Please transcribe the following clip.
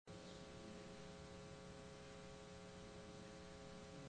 Thank you for watching.